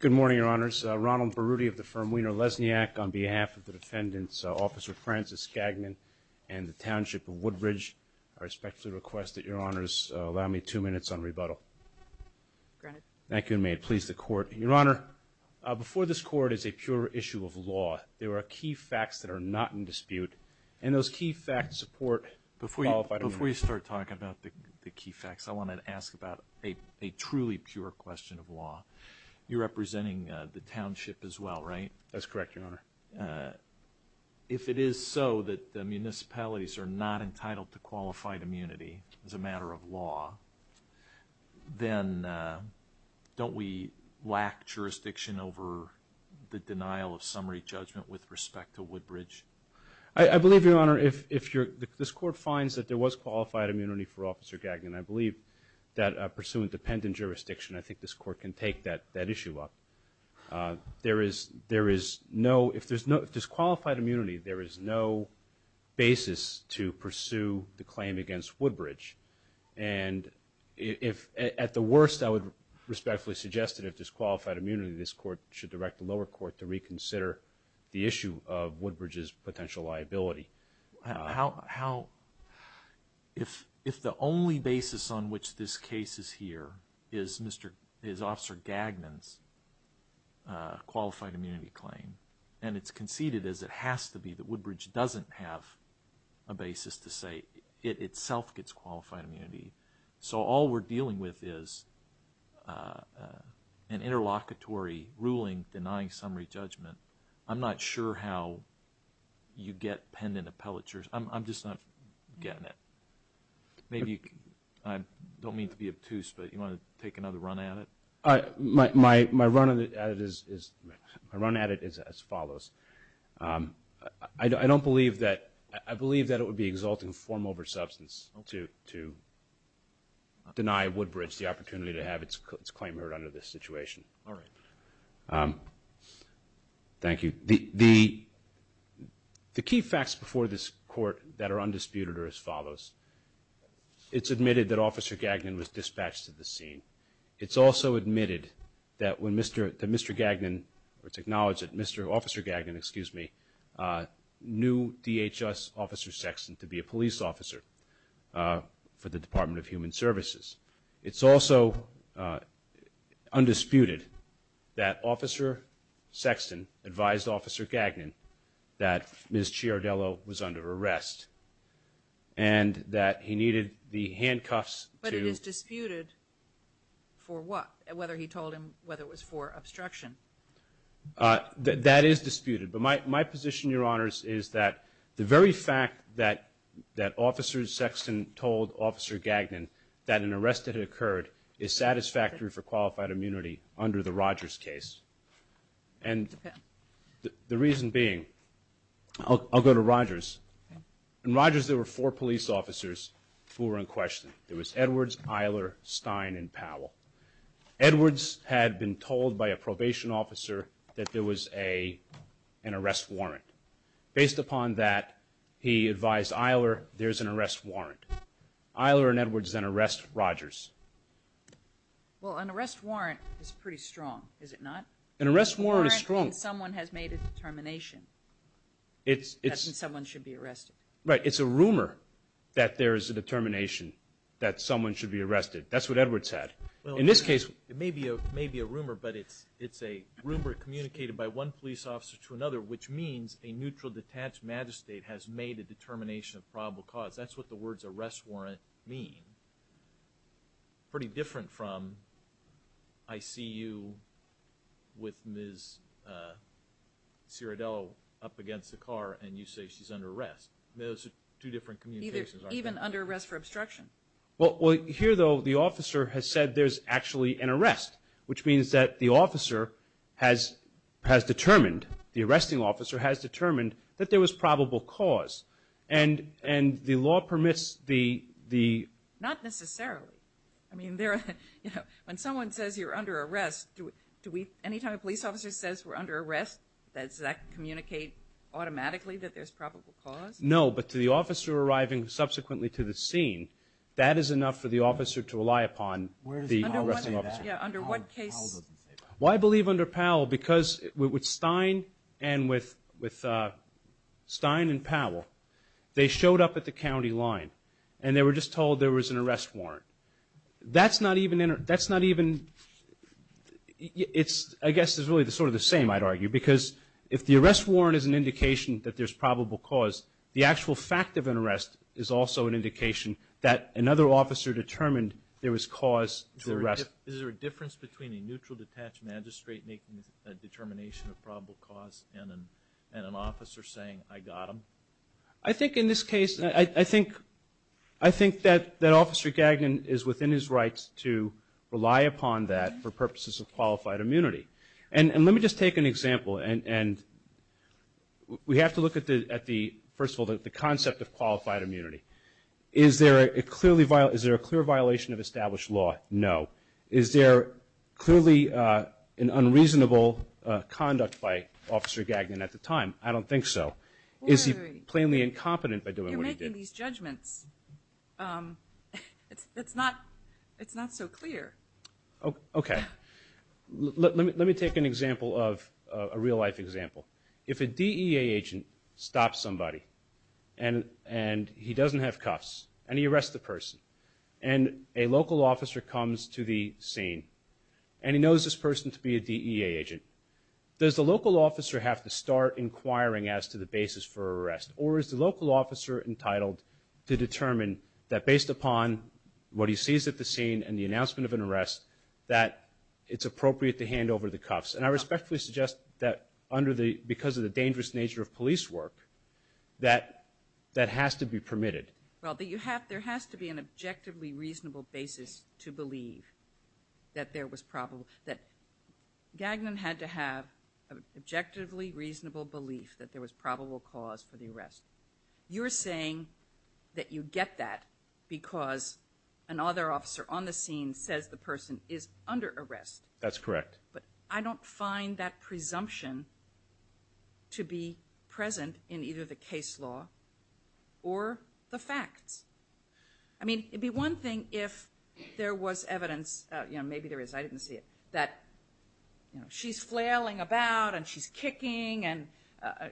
Good morning, Your Honors. Ronald Berruti of the firm Wiener Lesniak on behalf of the defendants, Officer Francis Skagman and the Township of Woodbridge, I respectfully request that Your Honors allow me two minutes on rebuttal. Thank you, and may it please the Court. Your Honor, before this Court is a pure issue of law. There are key facts that are not in dispute, and those key facts support... Before you start talking about the key facts, I wanted to ask about a truly pure question of law. You're representing the Township as well, right? That's correct, Your Honor. If it is so that the municipalities are not entitled to qualified immunity as a matter of law, then don't we lack jurisdiction over the denial of summary judgment with respect to Woodbridge? I believe, Your Honor, if this Court finds that there was qualified immunity for Officer Skagman, I believe that pursuant dependent jurisdiction, I think this Court can take that issue up. If there's qualified immunity, there is no basis to pursue the claim against Woodbridge. At the worst, I would respectfully suggest that if there's qualified immunity, this Court should direct the lower court to reconsider the issue of Woodbridge's potential liability. If the only basis on which this case is here is Officer Skagman's qualified immunity claim, and it's conceded as it has to be that Woodbridge doesn't have a basis to say it itself gets qualified immunity, so all we're dealing with is an interlocutory ruling denying summary judgment. I'm not sure how you get pendant appellatures. I'm just not getting it. I don't mean to be obtuse, but do you want to take another run at it? My run at it is as follows. I believe that it would be exalting form over substance to deny Woodbridge the opportunity to have its claim heard under this situation. All right. Thank you. The key facts before this Court that are undisputed are as follows. It's admitted that Officer Gagnon was dispatched to the scene. It's also admitted that when Mr. Gagnon, or it's acknowledged that Mr. Officer Gagnon, excuse me, knew DHS Officer Sexton to be a police officer for the Department of Human Services. It's also undisputed that Officer Sexton advised Officer Gagnon that Ms. Ciardello was under arrest and that he needed the handcuffs to... But it is disputed for what? Whether he told him whether it was for obstruction? That is disputed, but my position, Your Honors, is that the very fact that Officer Sexton told Officer Gagnon that an arrest had occurred is satisfactory for qualified immunity under the Rogers case. And the reason being, I'll go to Rogers. In Rogers, there were four police officers who were in question. There was Edwards, Eiler, Stein, and Powell. Edwards had been told by a probation officer that there was an arrest warrant. Based upon that, he advised Eiler there's an arrest warrant. Eiler and Edwards then arrest Rogers. Well, an arrest warrant is pretty strong, is it not? An arrest warrant is strong. An arrest warrant means someone has made a determination. It's... That someone should be arrested. Right. It's a rumor that there is a determination that someone should be arrested. That's what Edwards said. In this case... It may be a rumor, but it's a rumor communicated by one police officer to another, which means a neutral, detached magistrate has made a determination of probable cause. Those are two different communications, aren't they? Even under arrest for obstruction. Well, here, though, the officer has said there's actually an arrest, which means that the officer has determined, the arresting officer has determined, that there was probable cause. And the law permits the... Not necessarily. I mean, when someone says you're under arrest, anytime a police officer says we're under arrest, does that communicate automatically that there's probable cause? No, but to the officer arriving subsequently to the scene, that is enough for the officer to rely upon the arresting officer. Where does Powell say that? Yeah, under what case? Powell doesn't say that. Well, I believe under Powell because with Stein and with Stein and Powell, they showed up at the county line, and they were just told there was an arrest warrant. That's not even... I guess it's really sort of the same, I'd argue, because if the arrest warrant is an indication that there's probable cause, the actual fact of an arrest is also an indication that another officer determined there was cause to arrest. Is there a difference between a neutral, detached magistrate making a determination of probable cause and an officer saying, I got him? I think in this case, I think that Officer Gagnon is within his rights to rely upon that for purposes of qualified immunity. And let me just take an example, and we have to look at the, first of all, the concept of qualified immunity. Is there a clear violation of established law? No. Is there clearly an unreasonable conduct by Officer Gagnon at the time? I don't think so. Is he plainly incompetent by doing what he did? You're making these judgments. It's not so clear. Okay. Let me take an example of, a real-life example. If a DEA agent stops somebody, and he doesn't have cuffs, and he arrests the person, and a local officer comes to the scene, and he knows this person to be a DEA agent, does the local officer have to start inquiring as to the basis for arrest? Or is the local officer entitled to determine that based upon what he sees at the scene and the announcement of an arrest, that it's appropriate to hand over the cuffs? And I respectfully suggest that under the, because of the dangerous nature of police work, that that has to be permitted. Well, there has to be an objectively reasonable basis to believe that there was probable, that Gagnon had to have an objectively reasonable belief that there was probable cause for the arrest. You're saying that you get that because another officer on the scene says the person is under arrest. That's correct. But I don't find that presumption to be present in either the case law or the facts. I mean, it'd be one thing if there was evidence, you know, maybe there is, I didn't see it, that, you know, she's flailing about, and she's kicking, and,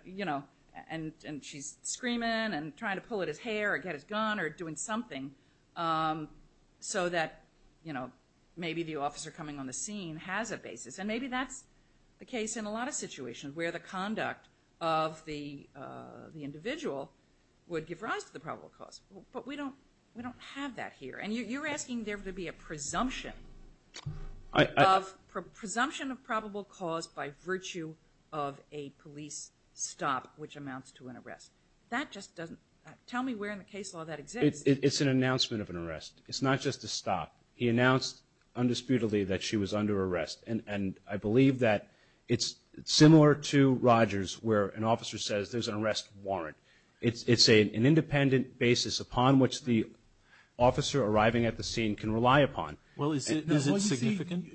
you know, and she's screaming, and trying to pull at his hair, or get his gun, or doing something so that, you know, maybe the officer coming on the scene has a basis. And maybe that's the case in a lot of situations where the conduct of the individual would give rise to the probable cause. But we don't have that here. And you're asking there to be a presumption of probable cause by virtue of a police stop, which amounts to an arrest. That just doesn't, tell me where in the case law that exists. It's an announcement of an arrest. It's not just a stop. He announced undisputedly that she was under arrest. And I believe that it's similar to Rogers where an officer says there's an arrest warrant. It's an independent basis upon which the officer arriving at the scene can rely upon. Well, is it significant?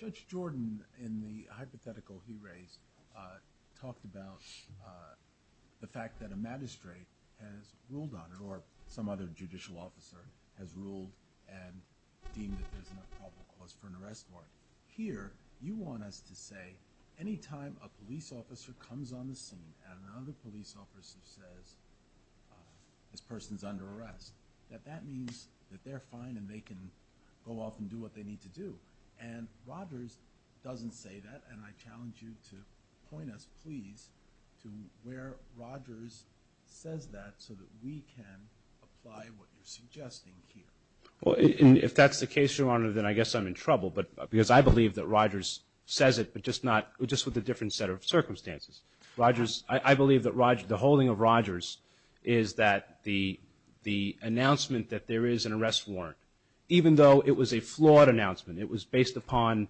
Judge Jordan, in the hypothetical he raised, talked about the fact that a magistrate has ruled on it, or some other judicial officer has ruled and deemed that there's a probable cause for an arrest warrant. Here, you want us to say any time a police officer comes on the scene and another police officer says this person's under arrest, that that means that they're fine and they can go off and do what they need to do. And Rogers doesn't say that. And I challenge you to point us, please, to where Rogers says that so that we can apply what you're suggesting here. Well, if that's the case, Your Honor, then I guess I'm in trouble because I believe that Rogers says it, but just with a different set of circumstances. I believe that the holding of Rogers is that the announcement that there is an arrest warrant, even though it was a flawed announcement, it was based upon,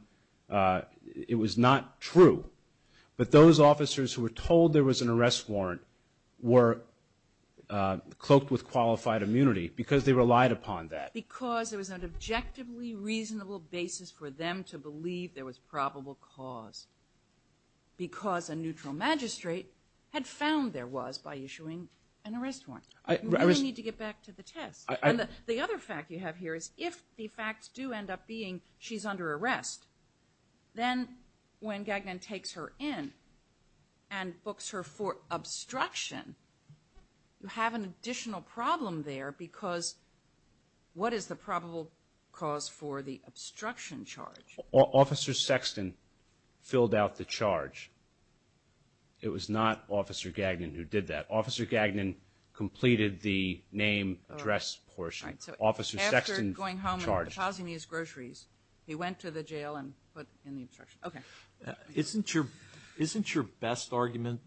it was not true, but those officers who were told there was an arrest warrant were cloaked with qualified immunity because they relied upon that. Because there was an objectively reasonable basis for them to believe there was probable cause. Because a neutral magistrate had found there was by issuing an arrest warrant. You really need to get back to the test. And the other fact you have here is if the facts do end up being she's under arrest, then when Gagnon takes her in and books her for obstruction, you have an additional problem there because what is the probable cause for the obstruction charge? Officer Sexton filled out the charge. It was not Officer Gagnon who did that. Officer Gagnon completed the name, address portion. Officer Sexton charged. After going home and pausing these groceries, he went to the jail and put in the obstruction. Okay. Isn't your best argument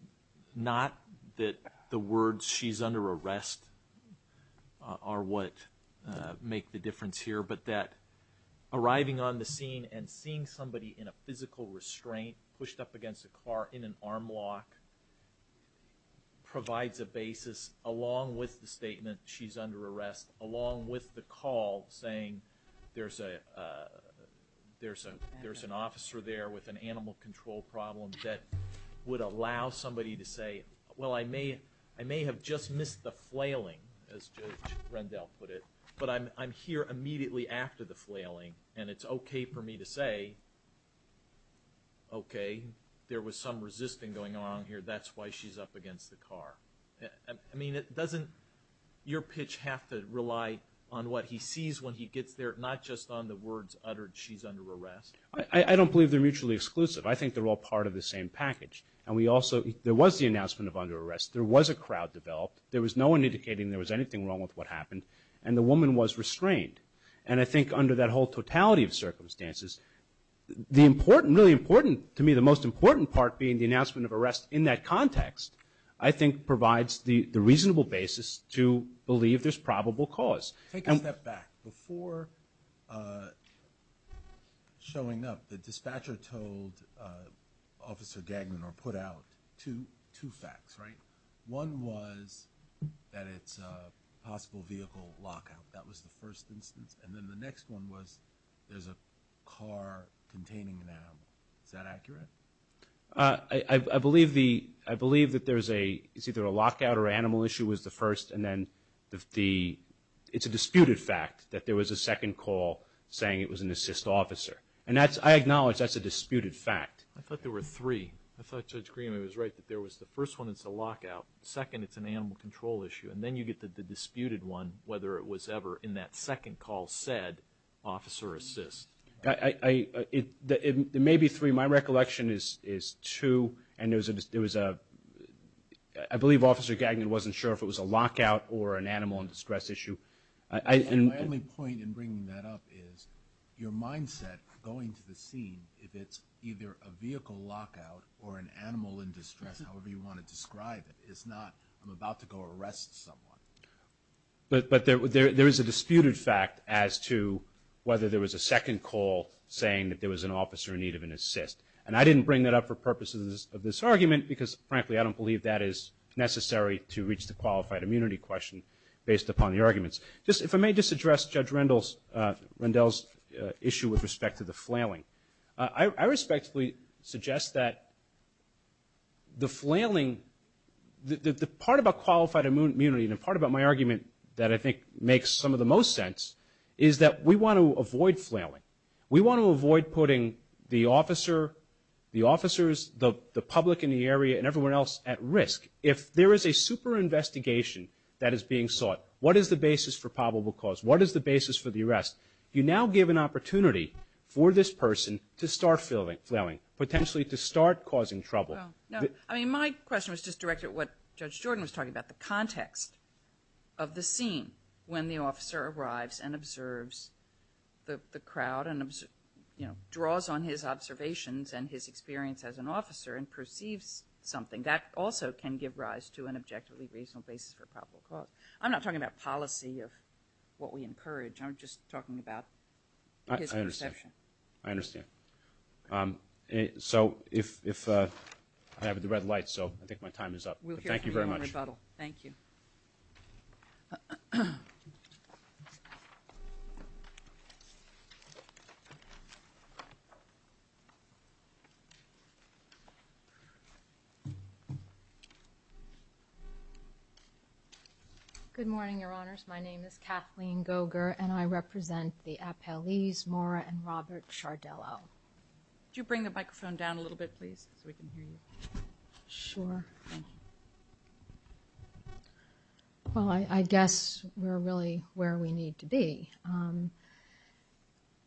not that the words she's under arrest are what make the difference here, but that arriving on the scene and seeing somebody in a physical restraint pushed up against a car in an arm lock provides a basis, along with the statement she's under arrest, along with the call saying there's an officer there with an animal control problem that would allow somebody to say, well, I may have just missed the flailing, as Judge Rendell put it, but I'm here immediately after the flailing and it's okay for me to say, okay, there was some resisting going on here. That's why she's up against the car. I mean, doesn't your pitch have to rely on what he sees when he gets there, not just on the words uttered she's under arrest? I don't believe they're mutually exclusive. I think they're all part of the same package. And we also – there was the announcement of under arrest. There was a crowd developed. There was no one indicating there was anything wrong with what happened. And the woman was restrained. And I think under that whole totality of circumstances, the important – really important to me, the most important part being the announcement of arrest in that context, I think provides the reasonable basis to believe there's probable cause. Take a step back. Before showing up, the dispatcher told Officer Gagnon or put out two facts, right? One was that it's a possible vehicle lockout. That was the first instance. And then the next one was there's a car containing an animal. Is that accurate? I believe the – I believe that there's a – it's either a lockout or an animal issue was the first. And then the – it's a disputed fact that there was a second call saying it was an assist officer. And that's – I acknowledge that's a disputed fact. I thought there were three. I thought Judge Green was right that there was the first one, it's a lockout. Second, it's an animal control issue. And then you get the disputed one, whether it was ever in that second call said officer assist. It may be three. My recollection is two. And there was a – I believe Officer Gagnon wasn't sure if it was a lockout or an animal distress issue. My only point in bringing that up is your mindset going to the scene, if it's either a vehicle lockout or an animal in distress, however you want to describe it. It's not I'm about to go arrest someone. But there is a disputed fact as to whether there was a second call saying that there was an officer in need of an assist. And I didn't bring that up for purposes of this argument because, frankly, I don't believe that is necessary to reach the qualified immunity question based upon the arguments. If I may just address Judge Rendell's issue with respect to the flailing. I respectfully suggest that the flailing, the part about qualified immunity and the part about my argument that I think makes some of the most sense is that we want to avoid flailing. We want to avoid putting the officer, the officers, the public in the area, and everyone else at risk. If there is a super investigation that is being sought, what is the basis for probable cause? What is the basis for the arrest? You now give an opportunity for this person to start flailing, potentially to start causing trouble. No. I mean, my question was just directed at what Judge Jordan was talking about, the context of the scene when the officer arrives and observes the crowd and draws on his observations and his experience as an officer and perceives something. That also can give rise to an objectively reasonable basis for probable cause. I'm not talking about policy of what we encourage. I'm just talking about his perception. I understand. I understand. So if I have the red light, so I think my time is up. Thank you very much. We'll hear from you in rebuttal. Thank you. Good morning, Your Honors. My name is Kathleen Goger, and I represent the appellees, Maura and Robert Sardello. Could you bring the microphone down a little bit, please, so we can hear you? Sure. Thank you. Well, I guess we're really where we need to be.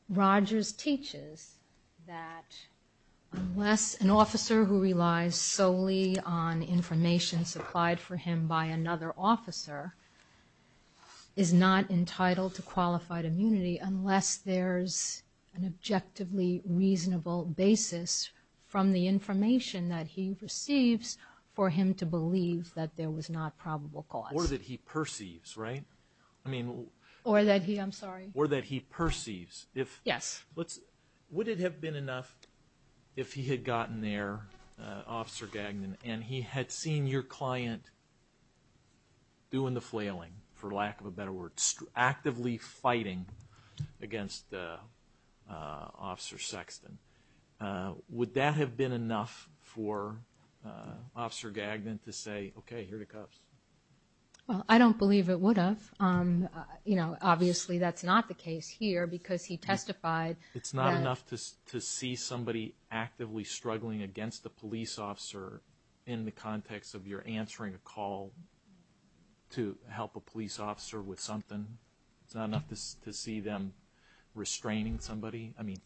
Rogers teaches that unless an officer who relies solely on information supplied for him by another officer is not entitled to qualified immunity, unless there's an objectively reasonable basis from the information that he receives for him to believe that there was not probable cause. Or that he perceives, right? Or that he, I'm sorry. Or that he perceives. Yes. Would it have been enough if he had gotten there, Officer Gagnon, and he had seen your client doing the flailing, for lack of a better word, actively fighting against Officer Sexton? Would that have been enough for Officer Gagnon to say, okay, here are the cuffs? Well, I don't believe it would have. You know, obviously that's not the case here because he testified. It's not enough to see somebody actively struggling against a police officer in the context of your answering a call to help a police officer with something? It's not enough to see them restraining somebody? I mean,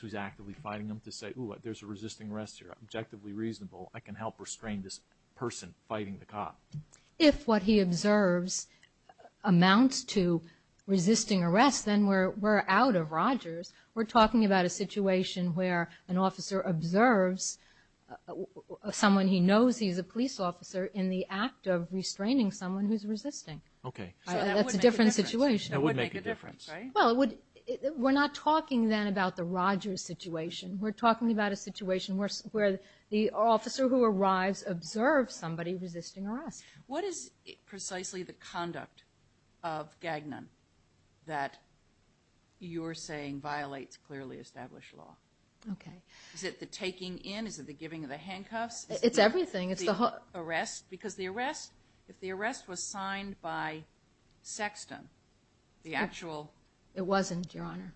who's actively fighting them to say, ooh, there's a resisting arrest here. I can help restrain this person fighting the cop. If what he observes amounts to resisting arrest, then we're out of Rogers. We're talking about a situation where an officer observes someone he knows, he's a police officer, in the act of restraining someone who's resisting. So that would make a difference. That's a different situation. That would make a difference, right? Well, we're not talking then about the Rogers situation. We're talking about a situation where the officer who arrives observes somebody resisting arrest. What is precisely the conduct of Gagnon that you're saying violates clearly established law? Okay. Is it the taking in? Is it the giving of the handcuffs? It's everything. It's the arrest? Because the arrest, if the arrest was signed by Sexton, the actual... It wasn't, Your Honor.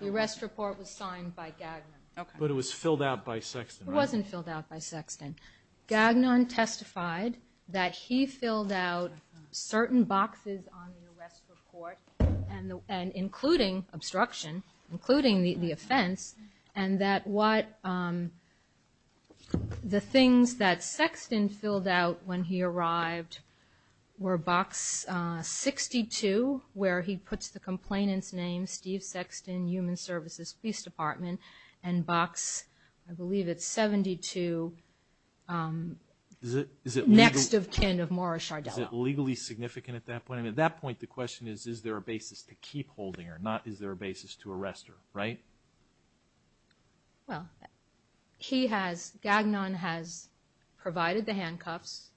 The arrest report was signed by Gagnon. Okay. But it was filled out by Sexton, right? It wasn't filled out by Sexton. Gagnon testified that he filled out certain boxes on the arrest report, including obstruction, including the offense, and that the things that Sexton filled out when he arrived were Box 62, where he puts the complainant's name, Steve Sexton, Human Services Police Department, and Box, I believe it's 72, next of kin of Morris Sardello. Is it legally significant at that point? At that point, the question is, is there a basis to keep holding her, not is there a basis to arrest her, right? Well, Gagnon has provided the handcuffs,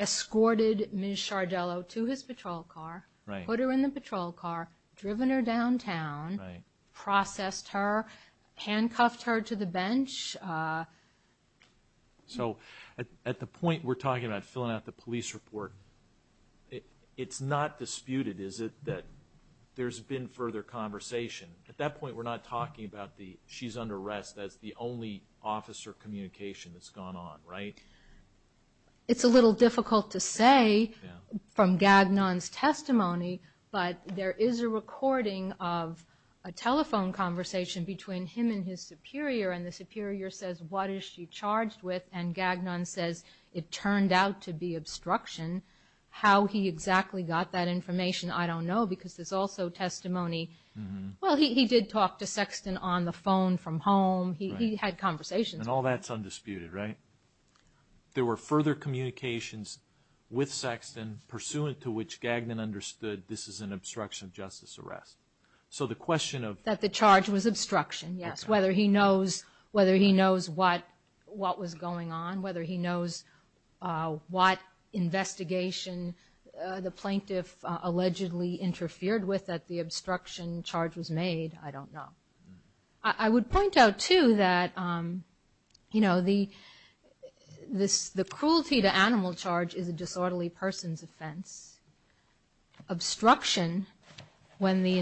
escorted Ms. Sardello to his patrol car, put her in the patrol car, driven her downtown, processed her, handcuffed her to the bench. So at the point we're talking about filling out the police report, it's not disputed, is it, that there's been further conversation? At that point, we're not talking about she's under arrest. That's the only officer communication that's gone on, right? It's a little difficult to say from Gagnon's testimony, but there is a recording of a telephone conversation between him and his superior, and the superior says, what is she charged with, and Gagnon says, it turned out to be obstruction. How he exactly got that information, I don't know, because there's also testimony. Well, he did talk to Sexton on the phone from home. He had conversations. And all that's undisputed, right? There were further communications with Sexton, pursuant to which Gagnon understood this is an obstruction of justice arrest. So the question of... That the charge was obstruction, yes, whether he knows what was going on, whether he knows what investigation the plaintiff allegedly interfered with that the obstruction charge was made, I don't know. I would point out, too, that the cruelty to animal charge is a disorderly person's offense. Obstruction, when the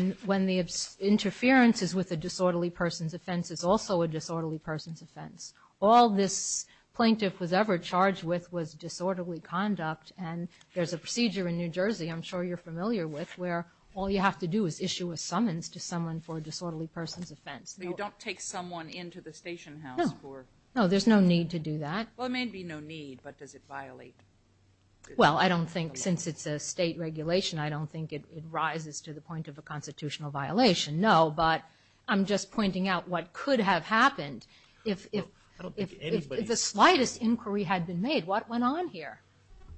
interference is with a disorderly person's offense, is also a disorderly person's offense. All this plaintiff was ever charged with was disorderly conduct, and there's a procedure in New Jersey I'm sure you're familiar with where all you have to do is issue a summons to someone for a disorderly person's offense. So you don't take someone into the station house for... No, there's no need to do that. Well, there may be no need, but does it violate... Well, I don't think, since it's a state regulation, I don't think it rises to the point of a constitutional violation, no, but I'm just pointing out what could have happened if the slightest inquiry had been made. What went on here?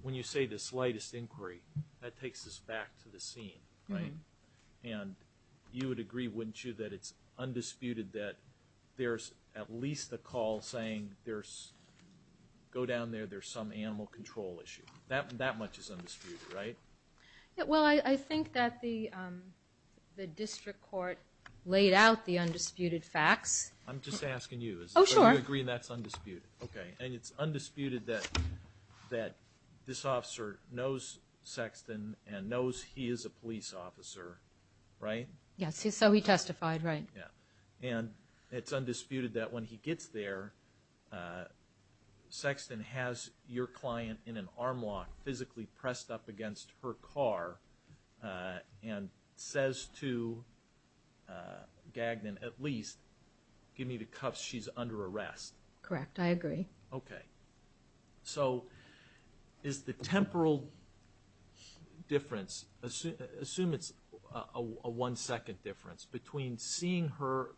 When you say the slightest inquiry, that takes us back to the scene, right? And you would agree, wouldn't you, that it's undisputed that there's at least a call saying go down there, there's some animal control issue. That much is undisputed, right? Well, I think that the district court laid out the undisputed facts. I'm just asking you. Oh, sure. Do you agree that's undisputed? Okay. And it's undisputed that this officer knows Sexton and knows he is a police officer, right? Yes, so he testified, right. Yeah. And it's undisputed that when he gets there, Sexton has your client in an arm lock physically pressed up against her car and says to Gagnon, at least, give me the cuffs, she's under arrest. Correct. I agree. Okay. So is the temporal difference, assume it's a one-second difference between seeing her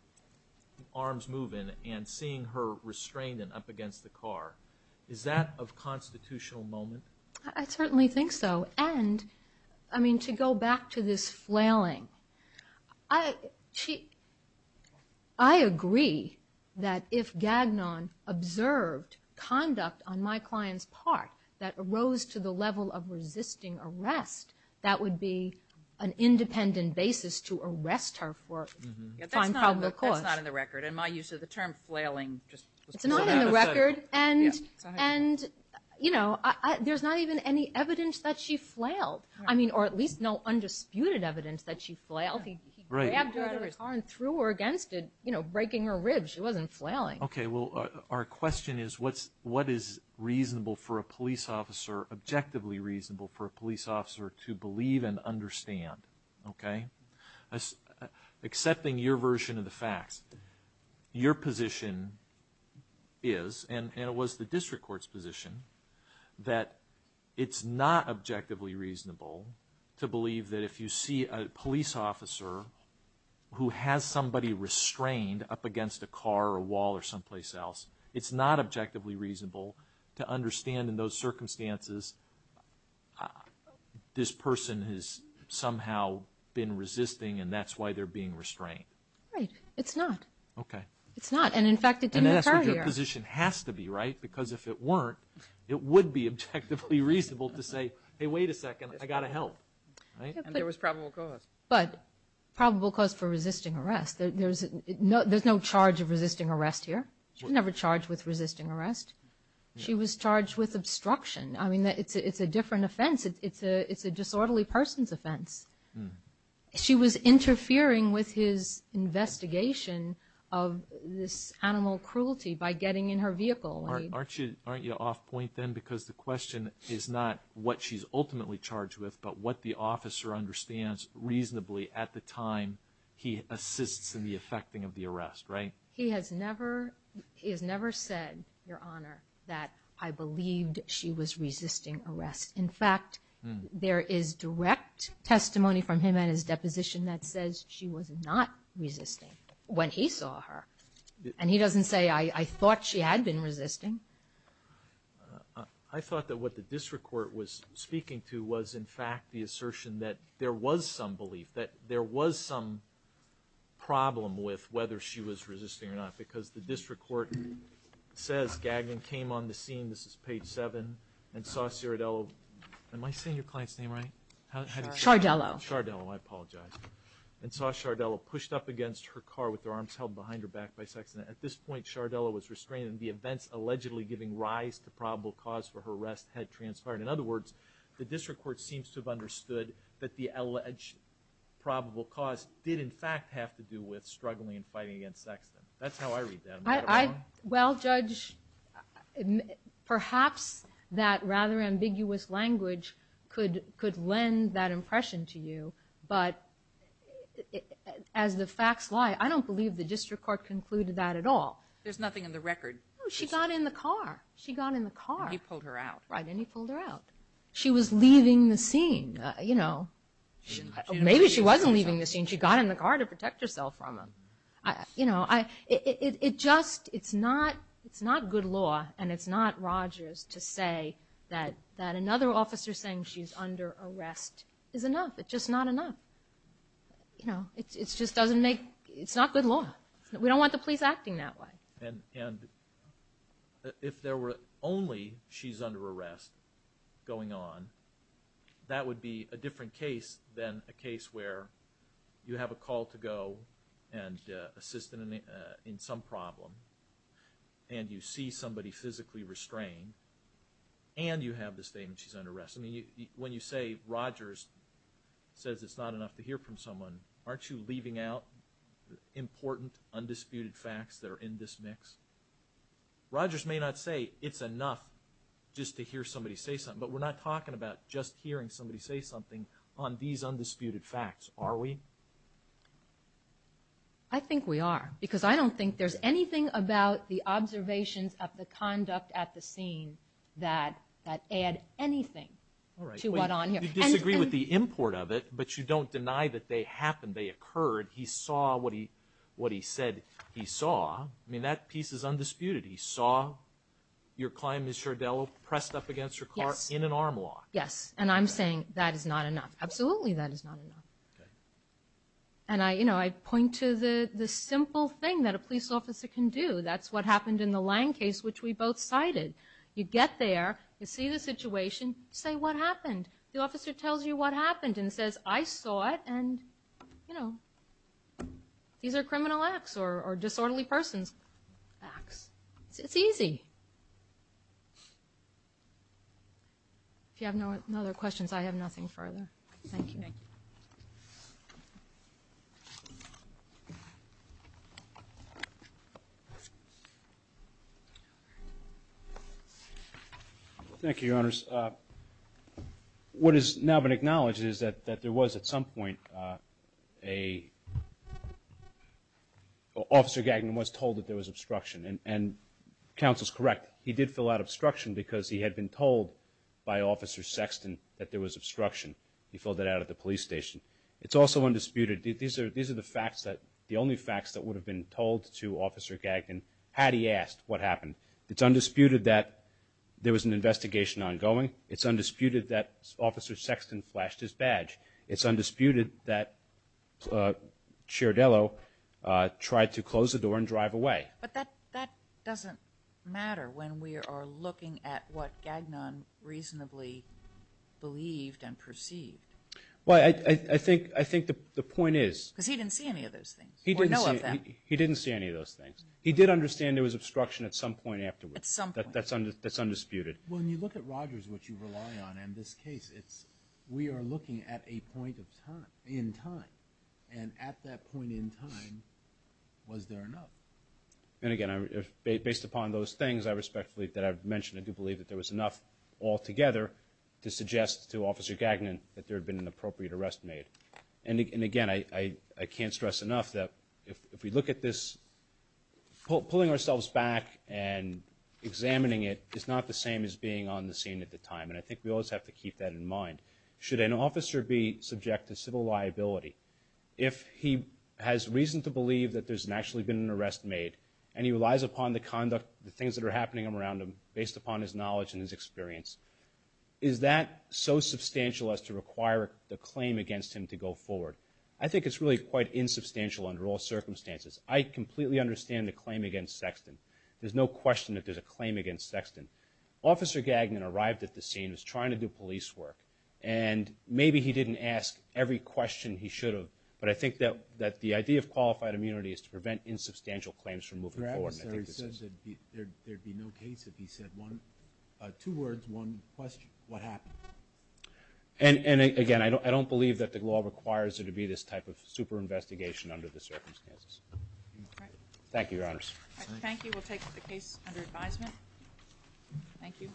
arms moving and seeing her restrained and up against the car, is that of constitutional moment? I certainly think so. And, I mean, to go back to this flailing, I agree that if Gagnon observed conduct on my client's part that arose to the level of resisting arrest, that would be an independent basis to arrest her for fine, probable cause. That's not in the record. In my use of the term flailing, just put that aside. It's not in the record. And, you know, there's not even any evidence that she flailed. I mean, or at least no undisputed evidence that she flailed. He grabbed her out of his car and threw her against it, you know, breaking her ribs. She wasn't flailing. Okay. Well, our question is what is reasonable for a police officer, objectively reasonable for a police officer to believe and understand, okay? Accepting your version of the facts, your position is, and it was the district court's position, that it's not objectively reasonable to believe that if you see a police officer who has somebody restrained up against a car or a wall or someplace else, it's not objectively reasonable to understand in those circumstances this person has somehow been resisting and that's why they're being restrained. Right. It's not. Okay. It's not. And, in fact, it didn't occur here. And that's what your position has to be, right? Because if it weren't, it would be objectively reasonable to say, hey, wait a second, I've got to help, right? And there was probable cause. But probable cause for resisting arrest. There's no charge of resisting arrest here. She was never charged with resisting arrest. She was charged with obstruction. I mean, it's a different offense. It's a disorderly person's offense. She was interfering with his investigation of this animal cruelty by getting in her vehicle. Aren't you off point then? Because the question is not what she's ultimately charged with, but what the officer understands reasonably at the time he assists in the effecting of the arrest, right? He has never said, Your Honor, that I believed she was resisting arrest. In fact, there is direct testimony from him and his deposition that says she was not resisting when he saw her. And he doesn't say, I thought she had been resisting. I thought that what the district court was speaking to was, in fact, the assertion that there was some belief, that there was some problem with whether she was resisting or not. Because the district court says Gagnon came on the scene, this is page 7, and saw Sardello. Am I saying your client's name right? Sardello. Sardello, I apologize. And saw Sardello pushed up against her car with her arms held behind her back by sex. At this point, Sardello was restrained, and the events allegedly giving rise to probable cause for her arrest had transpired. In other words, the district court seems to have understood that the alleged probable cause did, in fact, have to do with struggling and fighting against sex. That's how I read that. Well, Judge, perhaps that rather ambiguous language could lend that impression to you. But as the facts lie, I don't believe the district court concluded that at all. There's nothing in the record. No, she got in the car. She got in the car. And he pulled her out. Right, and he pulled her out. She was leaving the scene, you know. Maybe she wasn't leaving the scene. She got in the car to protect herself from him. You know, it just, it's not good law, and it's not Rogers to say that another officer saying she's under arrest is enough. It's just not enough. You know, it just doesn't make, it's not good law. We don't want the police acting that way. And if there were only she's under arrest going on, that would be a different case than a case where you have a call to go and assist in some problem, and you see somebody physically restrained, and you have the statement she's under arrest. I mean, when you say Rogers says it's not enough to hear from someone, aren't you leaving out important, undisputed facts that are in this mix? Rogers may not say it's enough just to hear somebody say something, but we're not talking about just hearing somebody say something on these undisputed facts, are we? I think we are, because I don't think there's anything about the observations of the conduct at the scene that add anything to what on here. You disagree with the import of it, but you don't deny that they happened, they occurred. He saw what he said he saw. I mean, that piece is undisputed. He saw your client, Ms. Schardello, pressed up against her car in an arm lock. Yes, and I'm saying that is not enough. Absolutely that is not enough. And, you know, I point to the simple thing that a police officer can do. That's what happened in the Lange case, which we both cited. You get there, you see the situation, you say, what happened? The officer tells you what happened and says, I saw it, and, you know, these are criminal acts or disorderly persons' acts. It's easy. If you have no other questions, I have nothing further. Thank you. Thank you. Thank you, Your Honors. What has now been acknowledged is that there was, at some point, Officer Gagnon was told that there was obstruction, and counsel's correct. He did fill out obstruction because he had been told by Officer Sexton that there was obstruction. He filled that out at the police station. It's also undisputed. These are the facts that the only facts that would have been told to Officer Gagnon had he asked what happened. It's undisputed that there was an investigation ongoing. It's undisputed that Officer Sexton flashed his badge. It's undisputed that Schardello tried to close the door and drive away. But that doesn't matter when we are looking at what Gagnon reasonably believed and perceived. Well, I think the point is. Because he didn't see any of those things, or know of them. He didn't see any of those things. He did understand there was obstruction at some point afterwards. At some point. That's undisputed. When you look at Rogers, which you rely on in this case, we are looking at a point in time. And at that point in time, was there enough? And, again, based upon those things that I've mentioned, I do believe that there was enough altogether to suggest to Officer Gagnon that there had been an appropriate arrest made. And, again, I can't stress enough that if we look at this, pulling ourselves back and examining it is not the same as being on the scene at the time. And I think we always have to keep that in mind. Should an officer be subject to civil liability, if he has reason to believe that there's actually been an arrest made, and he relies upon the conduct, the things that are happening around him, based upon his knowledge and his experience, is that so substantial as to require the claim against him to go forward? I think it's really quite insubstantial under all circumstances. I completely understand the claim against Sexton. There's no question that there's a claim against Sexton. Officer Gagnon arrived at the scene and was trying to do police work. And maybe he didn't ask every question he should have, but I think that the idea of qualified immunity is to prevent insubstantial claims from moving forward. There would be no case if he said two words, one question, what happened? And, again, I don't believe that the law requires there to be this type of super-investigation under the circumstances. Thank you, Your Honors. Thank you. We'll take the case under advisement. Thank you. Thank you.